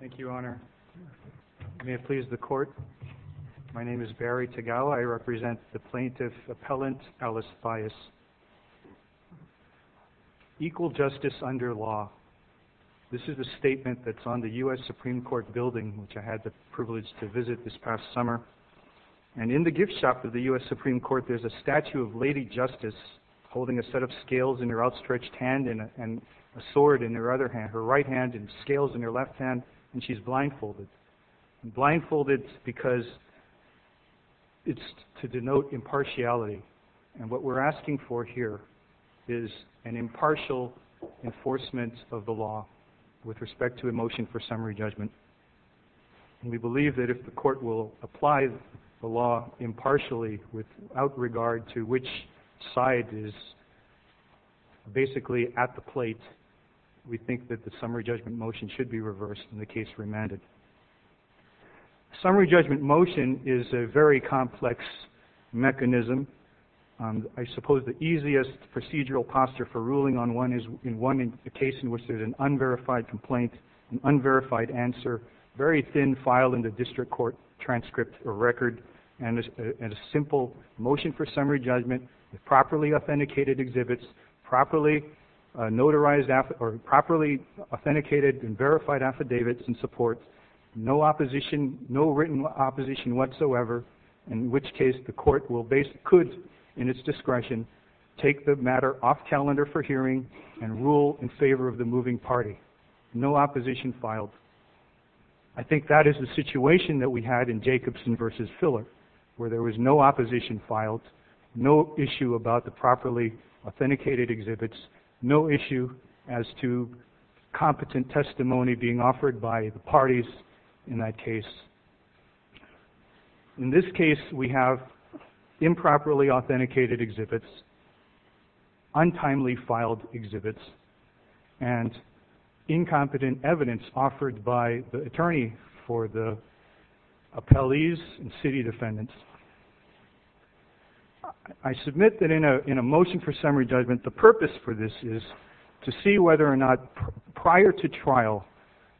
Thank you, Your Honor. May it please the Court, my name is Barry Tagawa. I represent the plaintiff appellant Alice Fias. Equal justice under law. This is a statement that's on the U.S. Supreme Court building, which I had the privilege to visit this past summer. And in the gift shop of the U.S. Supreme Court, there's a statue of Lady Justice holding a set of scales in her outstretched hand and a sword in her other hand, her right hand and scales in her left hand, and she's blindfolded. Blindfolded because it's to denote impartiality. And what we're asking for here is an impartial enforcement of the law with respect to a motion for summary judgment. And we believe that if the Court will apply the law impartially without regard to which side is basically at the plate, we think that the summary judgment motion should be reversed in the case remanded. Summary judgment motion is a very complex mechanism. I suppose the easiest procedural posture for ruling on one is in one case in which there's an unverified complaint, an unverified answer, very thin file in the district court transcript or record, and a simple motion for summary judgment with properly authenticated exhibits, properly notarized or properly authenticated and verified affidavits and supports, no opposition, no written opposition whatsoever, in which case the Court will base, could in its discretion, take the matter off calendar for hearing and rule in favor of the moving party. No opposition filed. I think that is the situation that we had in Jacobson versus Filler, where there was no opposition filed, no issue about the properly authenticated exhibits, no issue as to competent testimony being offered by the parties in that case. In this case, we have improperly authenticated exhibits, untimely filed exhibits, and incompetent evidence offered by the attorney for the appellees and city defendants. I submit that in a motion for summary judgment, the purpose for this is to see whether or not prior to trial,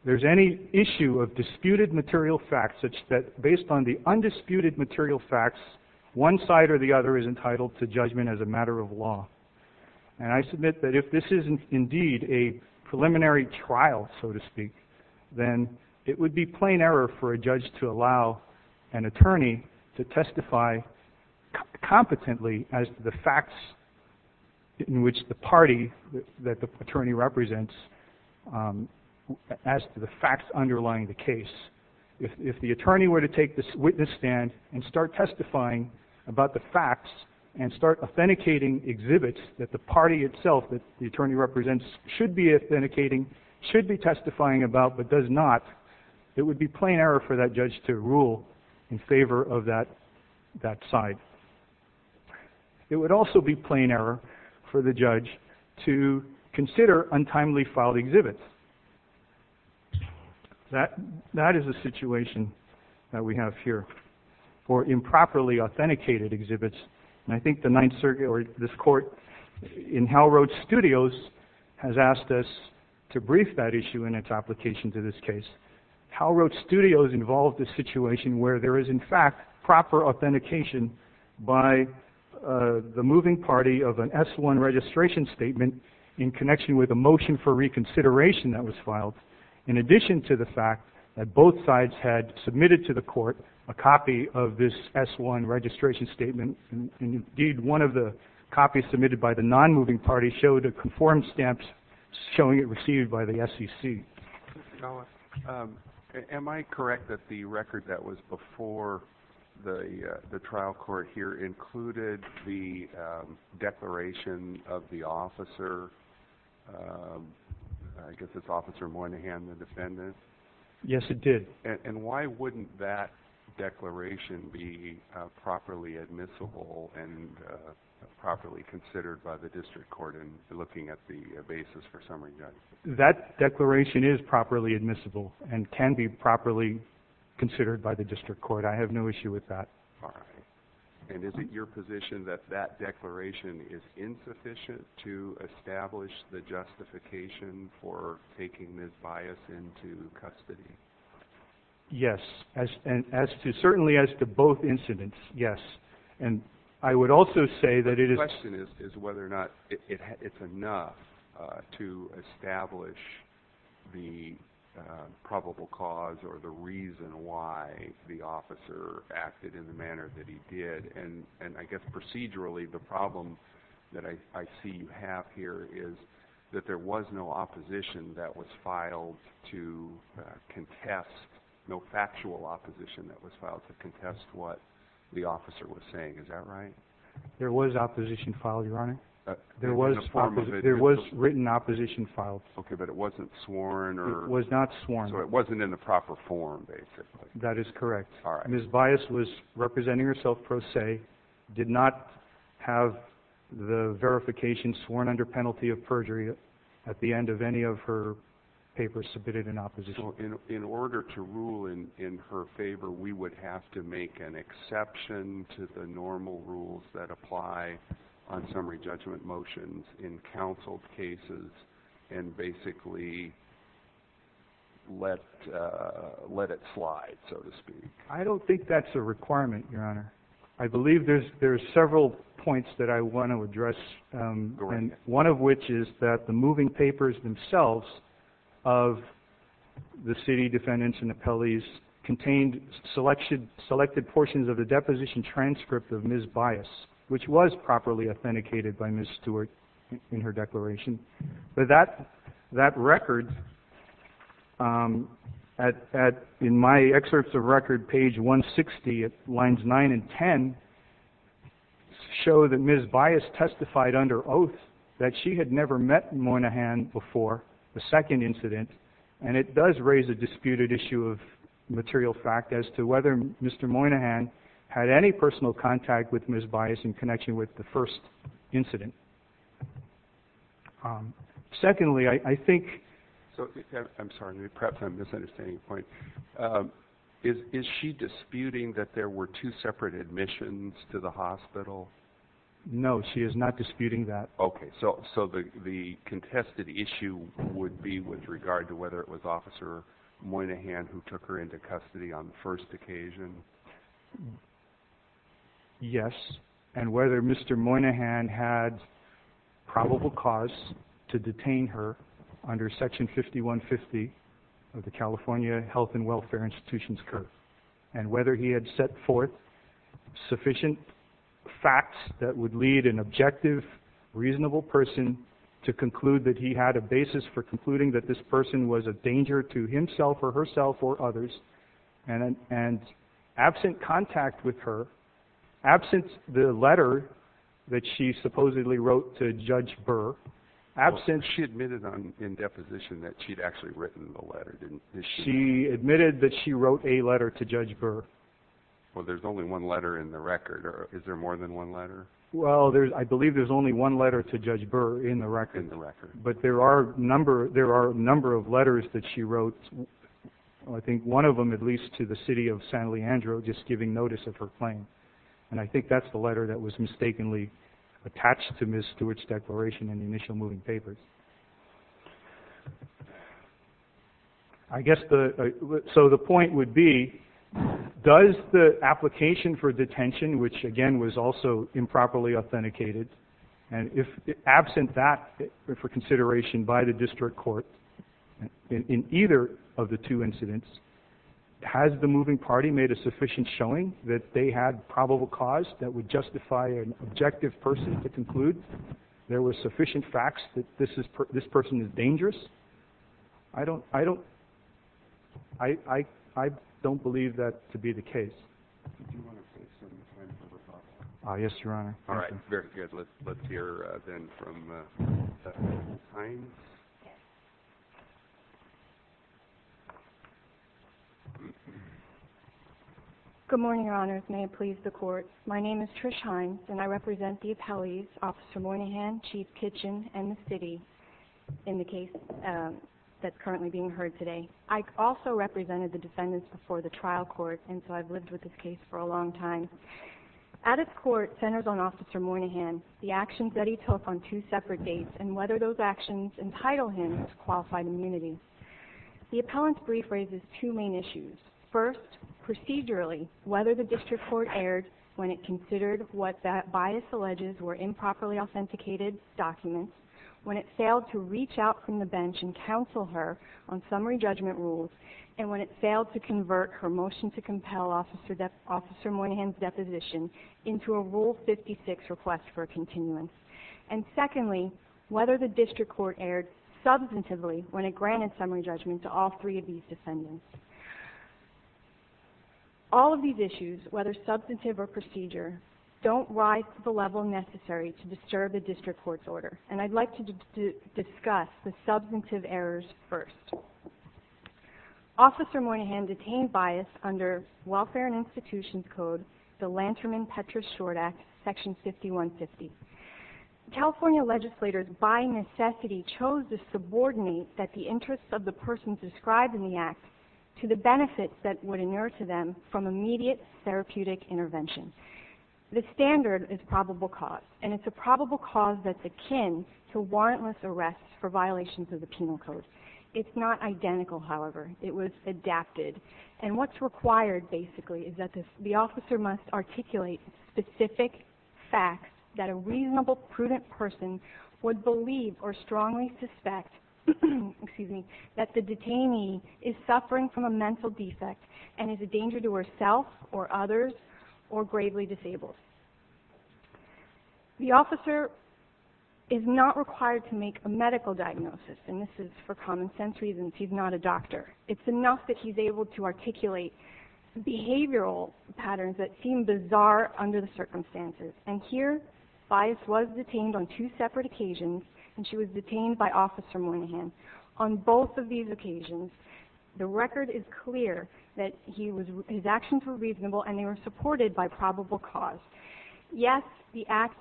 there's any issue of disputed material facts such that based on the undisputed material facts, one side or the other is entitled to judgment as a matter of law. And I submit that if this is indeed a preliminary trial, so to speak, then it would be plain error for a judge to allow an attorney to testify competently as to the facts in which the party that the attorney represents, as to the facts underlying the case. If the attorney were to take this witness stand and start testifying about the facts and start authenticating exhibits that the party itself that the attorney represents should be authenticating, should be testifying about, but does not, it would be plain error for that judge to rule in favor of that side. It would also be plain error for the judge to consider untimely filed exhibits. That is a situation that we have here for improperly authenticated exhibits. And I think the Ninth Circuit or this court in Howe Road Studios has asked us to brief that issue in its application to this case. Howe Road Studios involved this situation where there is in fact proper authentication by the moving party of an S-1 registration statement in connection with a motion for reconsideration that was filed, in addition to the fact that both sides had submitted to the court a copy of this S-1 registration statement. And indeed, one of the copies submitted by the non-moving party showed a conformed stamp showing it received by the SEC. Am I correct that the record that was before the trial court here included the declaration of the officer, I guess it's Officer Moynihan, the defendant? Yes, it did. And why wouldn't that declaration be properly admissible and properly considered by the district court in looking at the basis for summary judgment? That declaration is properly admissible and can be properly considered by the district court. I have no issue with that. All right. And is it your position that that declaration is insufficient to establish the justification for taking this bias into custody? Yes, certainly as to both incidents, yes. And I would also say that it is... The question is whether or not it's enough to establish the probable cause or the reason why the officer acted in the manner that he did. And I guess procedurally, the problem that I see you have here is that there was no opposition that was filed to contest, no factual opposition that was filed to contest what the There was written opposition filed. Okay, but it wasn't sworn or... It was not sworn. So it wasn't in the proper form, basically. That is correct. All right. Ms. Bias was representing herself pro se, did not have the verification sworn under penalty of perjury at the end of any of her papers submitted in opposition. In order to rule in her favor, we would have to make an exception to the normal rules that apply on summary judgment motions in counsel cases and basically let it slide, so to speak. I don't think that's a requirement, Your Honor. I believe there's several points that I want to address. And one of which is that the moving papers themselves of the city defendants and appellees contained selected portions of the deposition transcript of Ms. Bias, which was properly authenticated by Ms. Stewart in her declaration. But that record, in my excerpts of record, page 160, lines 9 and 10, show that Ms. Bias testified under oath that she had never met Moynihan before the second incident. And it does raise a question as to whether Mr. Moynihan had any personal contact with Ms. Bias in connection with the first incident. Secondly, I think... I'm sorry, perhaps I'm misunderstanding a point. Is she disputing that there were two separate admissions to the hospital? No, she is not disputing that. Okay. So the contested issue would be with regard to whether it was Officer Moynihan who took her into custody on the first occasion? Yes. And whether Mr. Moynihan had probable cause to detain her under Section 5150 of the California Health and Welfare Institution's code. And whether he had set forth sufficient facts that would lead an objective, reasonable person to conclude that he had a basis for concluding that this person was a danger to himself or herself or others. And absent contact with her, absent the letter that she supposedly wrote to Judge Burr, absent... She admitted in deposition that she'd actually written the letter, didn't she? She admitted that she wrote a letter to Judge Burr. Well, there's only one letter in the record, or is there more than one letter? Well, I believe there's only one letter to Judge Burr in the record. But there are a number of letters that she wrote. I think one of them, at least to the city of San Leandro, just giving notice of her claim. And I think that's the letter that was mistakenly attached to Ms. Stewart's declaration in the initial moving papers. I guess the... So the point would be, does the application for detention, which again was also improperly authenticated, and if absent that for consideration by the district court in either of the two incidents, has the moving party made a sufficient showing that they had probable cause that would justify an objective person to this person is dangerous? I don't... I don't believe that to be the case. Yes, Your Honor. All right. Very good. Let's hear then from Trish Hines. Good morning, Your Honors. May it please the court. My name is Trish Hines, and I represent the appellees, Officer in the case that's currently being heard today. I also represented the defendants before the trial court, and so I've lived with this case for a long time. At its court, centers on Officer Moynihan, the actions that he took on two separate dates, and whether those actions entitle him to qualified immunity. The appellant's brief raises two main issues. First, procedurally, whether the district court erred when it considered what that bias alleges were improperly performed. Second, whether it failed to reach out from the bench and counsel her on summary judgment rules, and when it failed to convert her motion to compel Officer Moynihan's deposition into a Rule 56 request for a continuance. And secondly, whether the district court erred substantively when it granted summary judgment to all three of these defendants. All of these issues, whether substantive or procedure, don't rise to the level necessary to disturb the discuss the substantive errors first. Officer Moynihan detained bias under Welfare and Institutions Code, the Lanterman-Petras Short Act, Section 5150. California legislators, by necessity, chose to subordinate that the interest of the person described in the act to the benefits that would inure to them from immediate therapeutic intervention. The standard is probable cause, and of the penal code. It's not identical, however. It was adapted. And what's required, basically, is that the officer must articulate specific facts that a reasonable, prudent person would believe or strongly suspect that the detainee is suffering from a mental defect and is a danger to herself or others or gravely disabled. The officer is not required to make a medical diagnosis, and this is for common sense reasons. He's not a doctor. It's enough that he's able to articulate behavioral patterns that seem bizarre under the circumstances. And here, bias was detained on two separate occasions, and she was detained by Officer Moynihan. On both of these occasions, the record is clear that his actions were reasonable and they were supported by probable cause. Yes, the record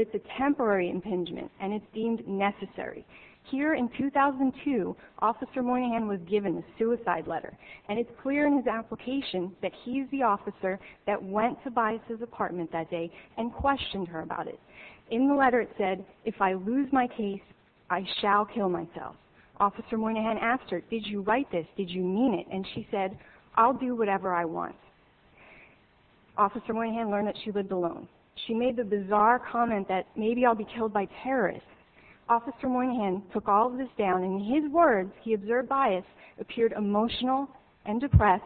is a temporary impingement, and it's deemed necessary. Here, in 2002, Officer Moynihan was given a suicide letter, and it's clear in his application that he's the officer that went to Bias's apartment that day and questioned her about it. In the letter, it said, if I lose my case, I shall kill myself. Officer Moynihan asked her, did you write this? Did you mean it? And she said, I'll do whatever I want. Officer Moynihan learned that she lived alone. She made the bizarre comment that maybe I'll be killed by terrorists. Officer Moynihan took all of this down, and in his words, he observed Bias appeared emotional and depressed,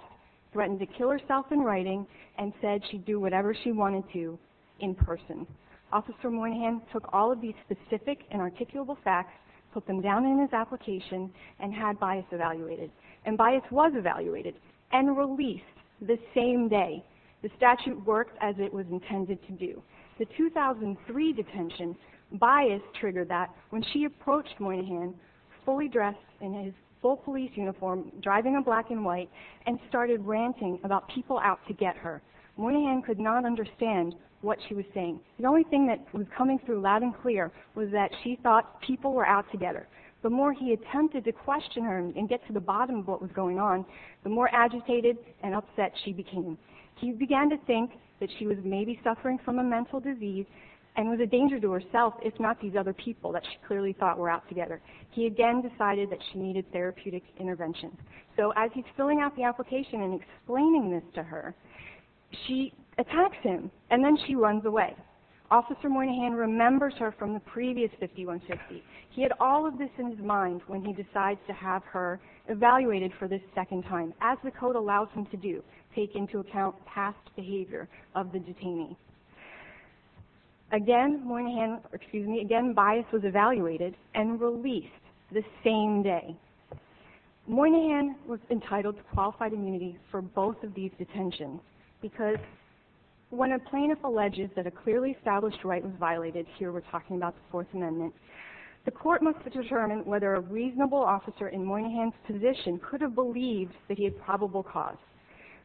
threatened to kill herself in writing, and said she'd do whatever she wanted to in person. Officer Moynihan took all of these specific and articulable facts, put them down in his application, and had Bias evaluated. And Bias was evaluated and released the same day. The statute worked as it was intended to do. The 2003 detention, Bias triggered that when she approached Moynihan, fully dressed in his full police uniform, driving a black and white, and started ranting about people out to get her. Moynihan could not understand what she was saying. The only thing that was coming through loud and clear was that she thought people were out to get her. The more he attempted to question her and get to the bottom of what was going on, the more agitated and upset she became. He began to think that she was maybe suffering from a mental disease and was a danger to herself, if not these other people that she clearly thought were out together. He again decided that she needed therapeutic intervention. So as he's filling out the application and explaining this to her, she attacks him, and then she runs away. Officer Moynihan remembers her from the previous 5150. He had all of this in his mind when he decides to have her evaluated for this second time, as the code allows him to do, take into account past behavior of the detainee. Again, Bias was evaluated and released the same day. Moynihan was entitled to qualified immunity for both of these detentions, because when a plaintiff alleges that a clearly established right was violated, here we're talking about the Fourth Amendment, the court must determine whether a reasonable officer in Moynihan's position could have believed that he had probable cause.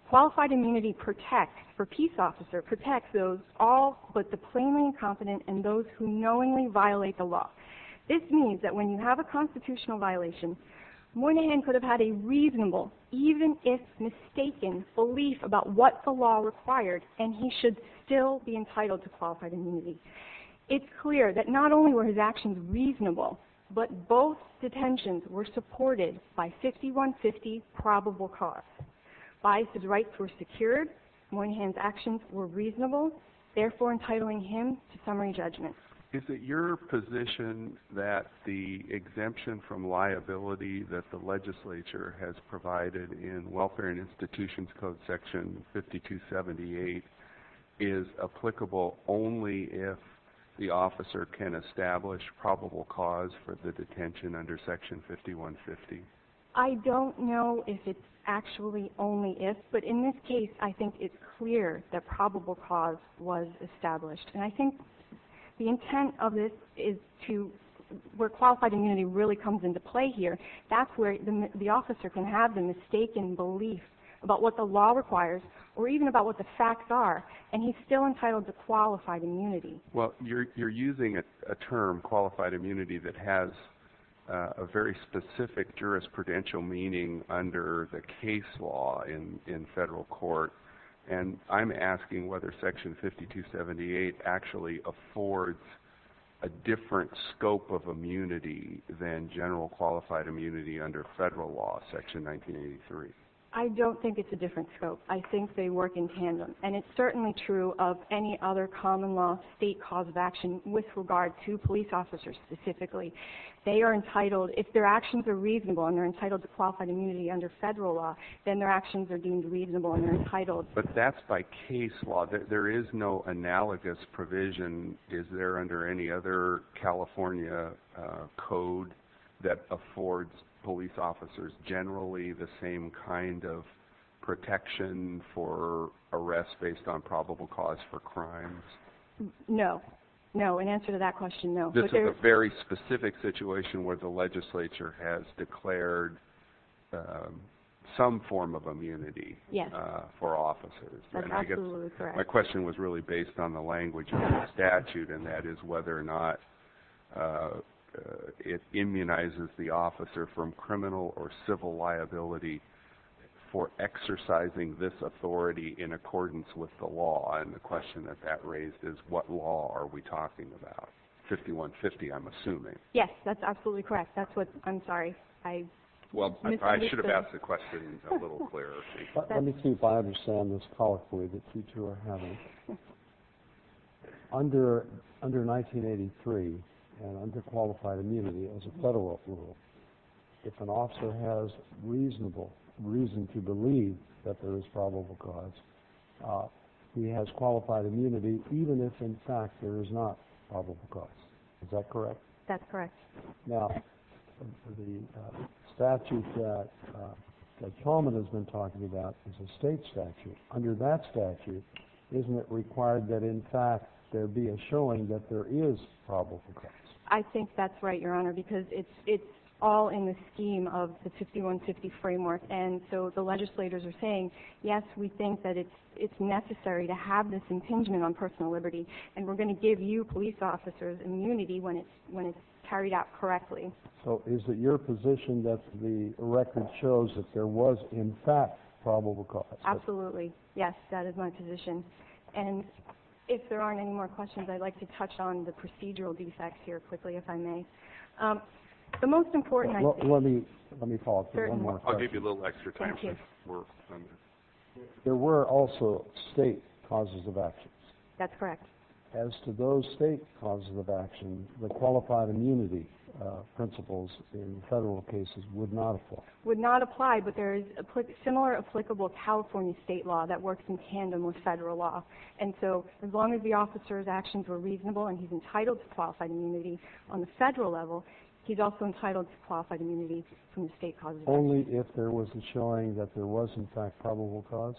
Qualified immunity protects, for a peace officer, protects those all but the plainly incompetent and those who knowingly violate the law. This means that when you have a constitutional violation, Moynihan could have had a reasonable, even if he did not have a probable cause. It's clear that not only were his actions reasonable, but both detentions were supported by 5150's probable cause. Bias' rights were secured, Moynihan's actions were reasonable, therefore entitling him to summary judgment. Is it your position that the exemption from liability that the legislature has provided in welfare indications is not a reasonable one? I don't know if it's actually only if, but in this case, I think it's clear that probable cause was established, and I think the intent of this is to, where qualified immunity really comes into play here, that's where the officer can have the mistaken belief about what the law requires, or even about what the facts are, and he's still entitled to qualified immunity. Well, you're using a term, qualified immunity, that has a very specific jurisprudential meaning under the case law in federal court, and I'm asking whether section 5278 actually affords a different scope of immunity than general qualified immunity under federal law, section 1983. I don't think it's a different scope. I think they work in tandem, and it's certainly true of any other common law state cause of action with regard to police officers specifically. They are entitled, if their actions are reasonable and they're entitled to qualified immunity under federal law, then their actions are deemed reasonable and they're entitled. But that's by case law. There is no analogous provision, is there, under any other California code that affords police officers generally the same kind of protection for arrest based on probable cause for crimes? No. No. In answer to that question, no. This is a very specific situation where the legislature has declared some form of immunity for officers. That's absolutely correct. My question was really based on the language of the statute, and that is whether or not it immunizes the officer from criminal or civil liability for exercising this authority in accordance with the law. And the question that that raised is what law are we talking about? 5150, I'm assuming. Yes, that's absolutely correct. I'm sorry. I should have asked the question a little clearer. Let me see if I understand this colloquially that you two are having. Under 1983 and under qualified immunity as a federal rule, if an officer has reason to believe that there is probable cause, he has qualified immunity even if in fact there is not probable cause. Is that correct? That's correct. Now, the statute that Coleman has been talking about is a state statute. Under that statute, isn't it required that in fact there be a showing that there is probable cause? I think that's right, Your Honor, because it's all in the scheme of the 5150 framework. And so the legislators are saying, yes, we think that it's necessary to have this impingement on personal liberty, and we're going to give you police officers immunity when it's carried out correctly. So is it your position that the record shows that there was in fact probable cause? Absolutely. Yes, that is my position. And if there aren't any more questions, I'd like to touch on the procedural defects here quickly, if I may. The most important... Let me follow up with one more question. I'll give you a little extra time. Thank you. There were also state causes of actions. That's correct. As to those state causes of action, the qualified immunity principles in federal cases would not apply. But there is a similar applicable California state law that works in tandem with federal law. And so as long as the officer's actions were reasonable and he's entitled to qualified immunity on the federal level, he's also entitled to qualified immunity from the state causes of action. Only if there was a showing that there was in fact probable cause?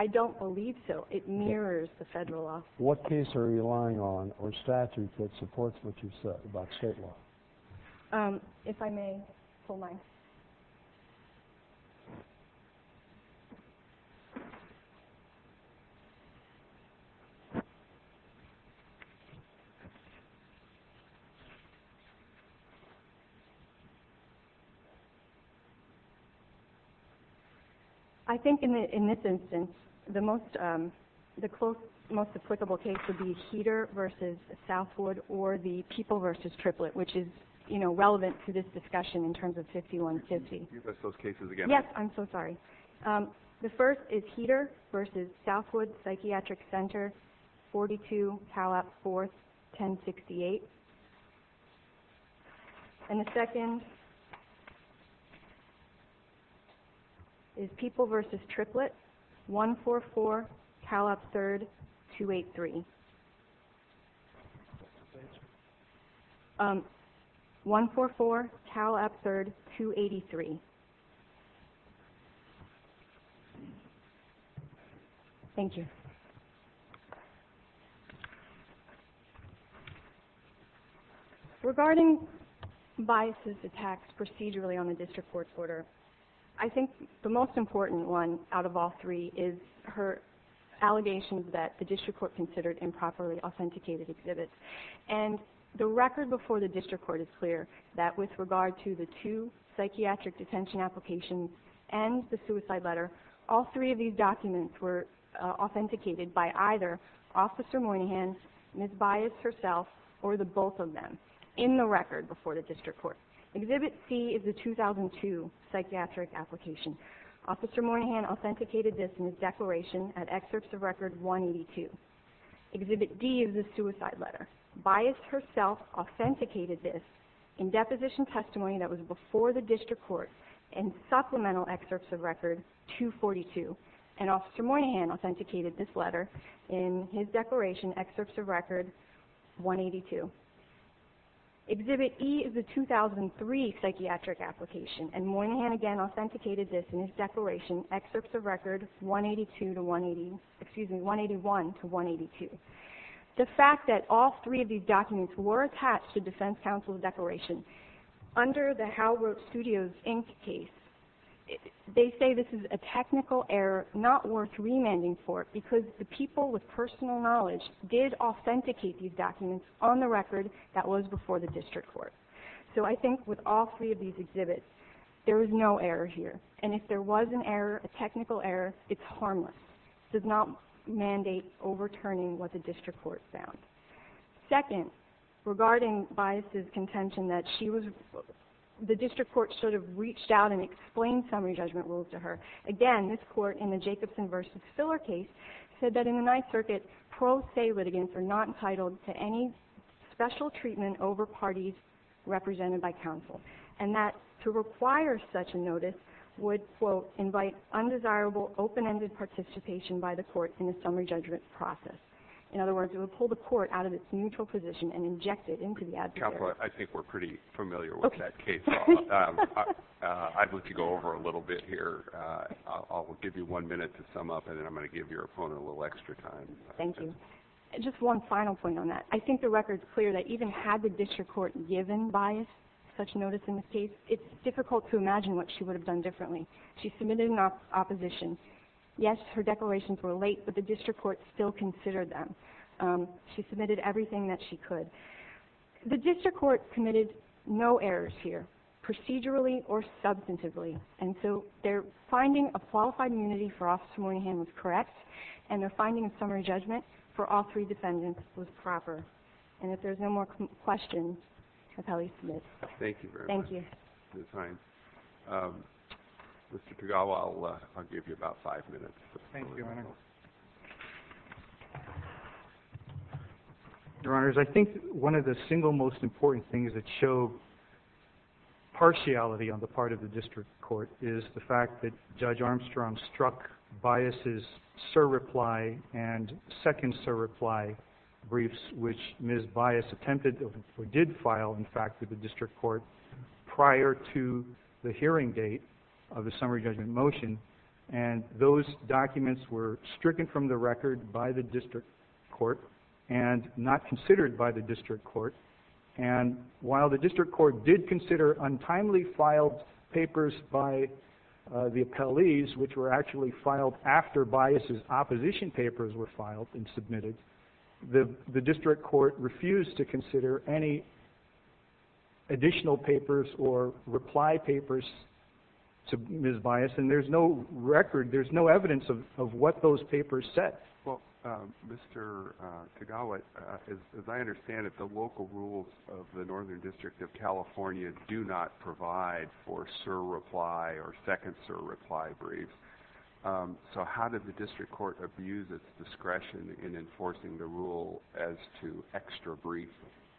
I don't believe so. It mirrors the federal law. What case are you relying on or statute that supports what you said about state law? If I may, hold on. I think in this instance, the most applicable case would be Heater v. Southwood or the People v. Triplet, which is, you know, relevant to this discussion in terms of 5150. Can you repeat those cases again? Yes, I'm so sorry. One is Heater v. Southwood Psychiatric Center, 42 Cal Up 4th, 1068. And the second is People v. Triplet, 144 Cal Up 3rd, 283. 144 Cal Up 3rd, 283. Thank you. Regarding Bias' attacks procedurally on the district court's order, I think the most important one out of all three is her allegations that the district court considered improperly authenticated exhibits. And the record before the district court is clear that with regard to the two psychiatric detention applications and the suicide letter, all three of these documents were authenticated by either Officer Moynihan, Ms. Bias herself, or the both of them in the record before the district court. Exhibit C is the 2002 psychiatric application. Officer Moynihan authenticated this in his declaration at excerpts of record 182. Exhibit D is the suicide letter. Bias herself authenticated this in deposition testimony that was before the district court in supplemental excerpts of record 242. And Officer Moynihan authenticated this letter in his declaration, excerpts of record 182. Exhibit E is the 2003 psychiatric application. And Moynihan, again, authenticated this in his declaration, excerpts of record 181 to 182. The fact that all three of these documents were attached to defense counsel's declaration under the Hal Roach Studios Inc. case, they say this is a technical error not worth remanding for because the people with personal knowledge did authenticate these documents on the record that was before the district court. So I think with all three of these exhibits, there is no error here. And if there was an error, a technical error, it's harmless. It does not mandate overturning what the district court found. Second, regarding Bias' contention that the district court should have reached out and explained summary judgment rules to her, again, this court in the Jacobson v. Spiller case said that in the Ninth Circuit, pro se litigants are not entitled to any special treatment over parties represented by counsel. And that to require such a notice would, quote, invite undesirable open-ended participation by the court in the summary judgment process. In other words, it would pull the court out of its neutral position and inject it into the adjudicator. Counselor, I think we're pretty familiar with that case. I'd like to go over a little bit here. I'll give you one minute to sum up, and then I'm going to give your opponent a little extra time. Thank you. Just one final point on that. I think the record's clear that even had the district court given Bias such notice in this case, it's difficult to imagine what she would have done differently. She submitted an opposition. Yes, her declarations were late, but the district court still considered them. She submitted everything that she could. The district court committed no errors here, procedurally or substantively. And so their finding of qualified immunity for Officer Moynihan was correct, and their finding of summary judgment for all three defendants was proper. And if there's no more questions, I'll tell you to submit. Thank you very much. Thank you. Mr. Tagawa, I'll give you about five minutes. Thank you, Your Honor. Your Honors, I think one of the single most important things that show partiality on the part of the district court is the fact that Judge Armstrong struck Bias' sir reply and second sir reply briefs, which Ms. Bias attempted or did file, in fact, with the district court prior to the hearing date of the summary judgment motion. And those documents were stricken from the record by the district court and not considered by the district court. And while the district court did consider untimely filed papers by the appellees, which were actually filed after Bias' opposition papers were filed and submitted, the district court refused to consider any additional papers or reply papers to Ms. Bias. And there's no record, there's no evidence of what those papers said. Well, Mr. Tagawa, as I understand it, the local rules of the Northern District of California do not provide for sir reply or second sir reply briefs. So how did the district court abuse its discretion in enforcing the rule as to extra briefs?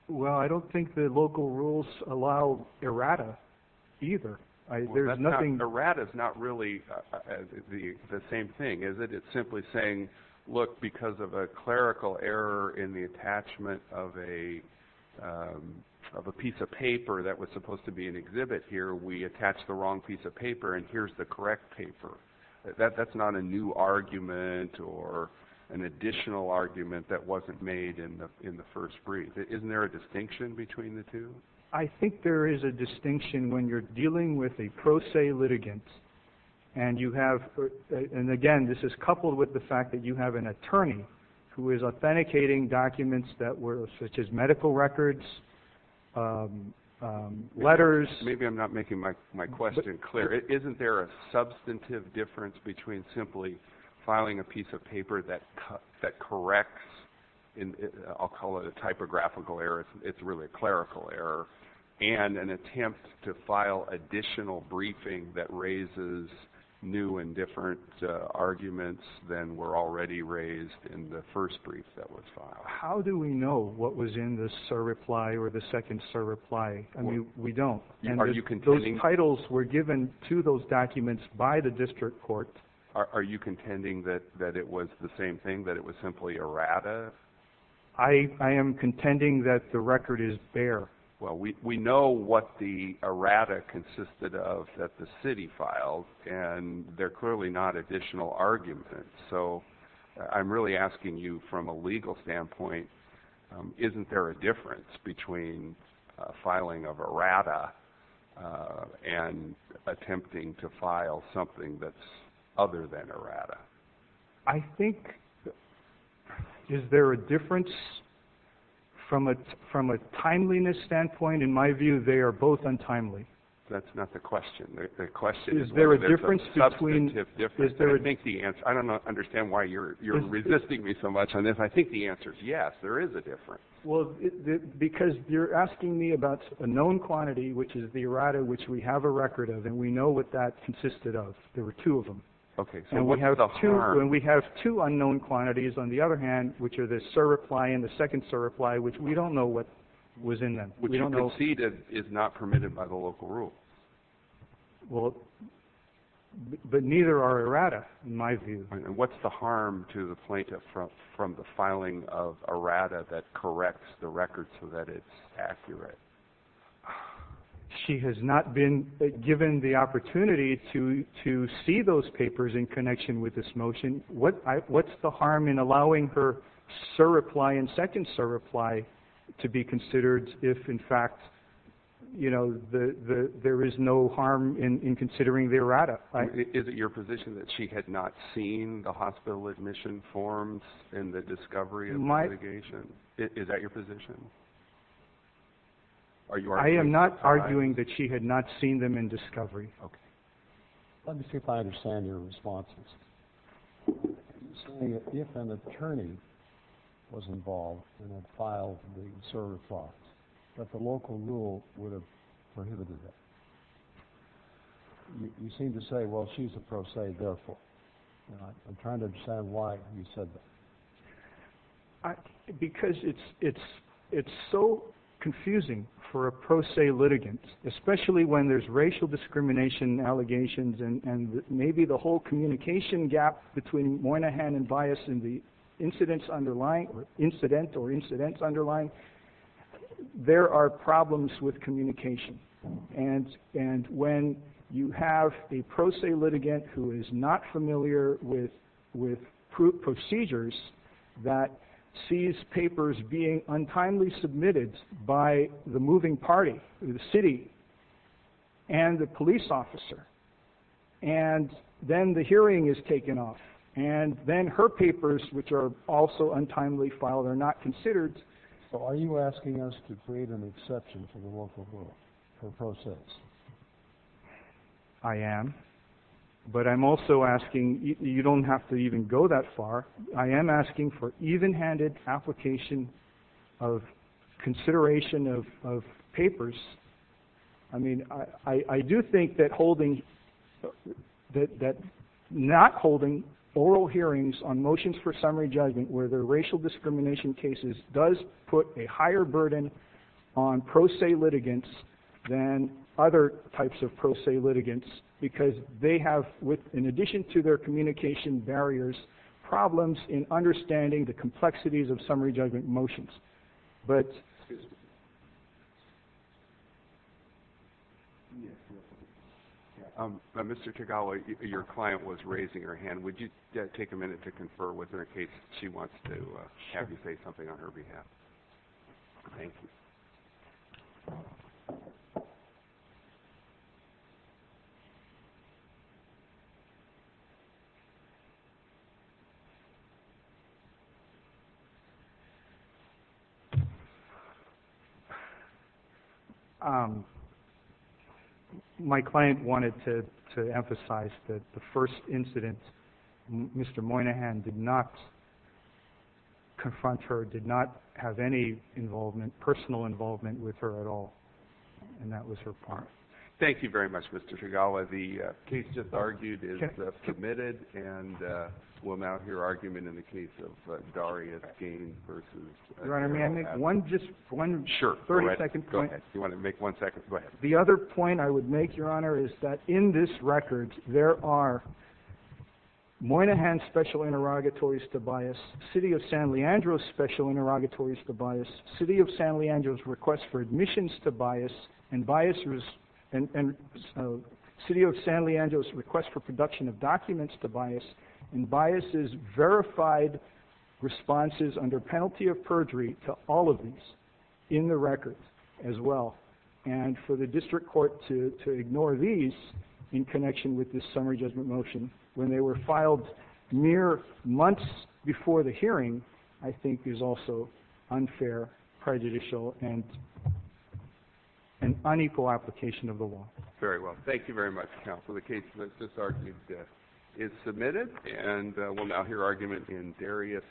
Well, I don't think the local rules allow errata either. Errata is not really the same thing, is it? It's simply saying, look, because of a clerical error in the attachment of a piece of paper that was supposed to be an exhibit here, we attached the wrong piece of paper, and here's the correct paper. That's not a new argument or an additional argument that wasn't made in the first brief. Isn't there a distinction between the two? I think there is a distinction when you're dealing with a pro se litigant, and, again, this is coupled with the fact that you have an attorney who is authenticating documents such as medical records, letters. Maybe I'm not making my question clear. Isn't there a substantive difference between simply filing a piece of paper that corrects, I'll call it a typographical error, it's really a clerical error, and an attempt to file additional briefing that raises new and different arguments than were already raised in the first brief that was filed? How do we know what was in the SIR reply or the second SIR reply? I mean, we don't. Are you contending? Those titles were given to those documents by the district court. Are you contending that it was the same thing, that it was simply errata? I am contending that the record is bare. Well, we know what the errata consisted of that the city filed, and they're clearly not additional arguments. So I'm really asking you from a legal standpoint, isn't there a difference between filing of errata and attempting to file something that's other than errata? I think is there a difference from a timeliness standpoint? In my view, they are both untimely. That's not the question. The question is whether there's a substantive difference. I don't understand why you're resisting me so much on this. I think the answer is yes, there is a difference. Well, because you're asking me about a known quantity, which is the errata, which we have a record of, and we know what that consisted of. There were two of them. Okay, so what's the harm? And we have two unknown quantities, on the other hand, which are the SIR reply and the second SIR reply, which we don't know what was in them. Which you conceded is not permitted by the local rule. Well, but neither are errata, in my view. And what's the harm to the plaintiff from the filing of errata that corrects the record so that it's accurate? She has not been given the opportunity to see those papers in connection with this motion. What's the harm in allowing her SIR reply and second SIR reply to be considered if, in fact, you know, there is no harm in considering the errata? Is it your position that she had not seen the hospital admission forms and the discovery and litigation? Is that your position? I am not arguing that she had not seen them in discovery. Okay. Let me see if I understand your responses. If an attorney was involved and had filed the SIR replies, that the local rule would have prohibited that. You seem to say, well, she's a pro se, therefore. I'm trying to understand why you said that. Because it's so confusing for a pro se litigant, especially when there's racial discrimination allegations and maybe the whole communication gap between Moynihan and Bias in the incident or incidents underlying. There are problems with communication. And when you have a pro se litigant who is not familiar with procedures that sees papers being untimely submitted by the moving party, the city, and the police officer, and then the hearing is taken off, and then her papers, which are also untimely filed, are not considered. So are you asking us to create an exception for the local rule, for pro ses? I am. But I'm also asking, you don't have to even go that far. I am asking for even-handed application of consideration of papers. I mean, I do think that not holding oral hearings on motions for summary judgment, where there are racial discrimination cases, does put a higher burden on pro se litigants than other types of pro se litigants, because they have, in addition to their communication barriers, problems in understanding the complexities of summary judgment motions. Excuse me. Mr. Tagalo, your client was raising her hand. Would you take a minute to confer with her in case she wants to have you say something on her behalf? Thank you. My client wanted to emphasize that the first incident, Mr. Moynihan did not confront her, did not have any personal involvement with her at all, and that was her part. Thank you very much, Mr. Tagalo. The case just argued is submitted, and we'll mount your argument in the case of Darius Gaines v. Your Honor, may I make just one 30-second point? Sure, go ahead. If you want to make one second, go ahead. The other point I would make, Your Honor, is that in this record, there are Moynihan's special interrogatories to bias, City of San Leandro's special interrogatories to bias, City of San Leandro's request for admissions to bias, and City of San Leandro's request for production of documents to bias, and bias's verified responses under penalty of perjury to all of these in the record as well. And for the district court to ignore these in connection with this summary judgment motion when they were filed mere months before the hearing, I think is also unfair, prejudicial, and unequal application of the law. Thank you very much, counsel. The case just argued is submitted, and we'll mount your argument in Darius Gaines v. Your Honor.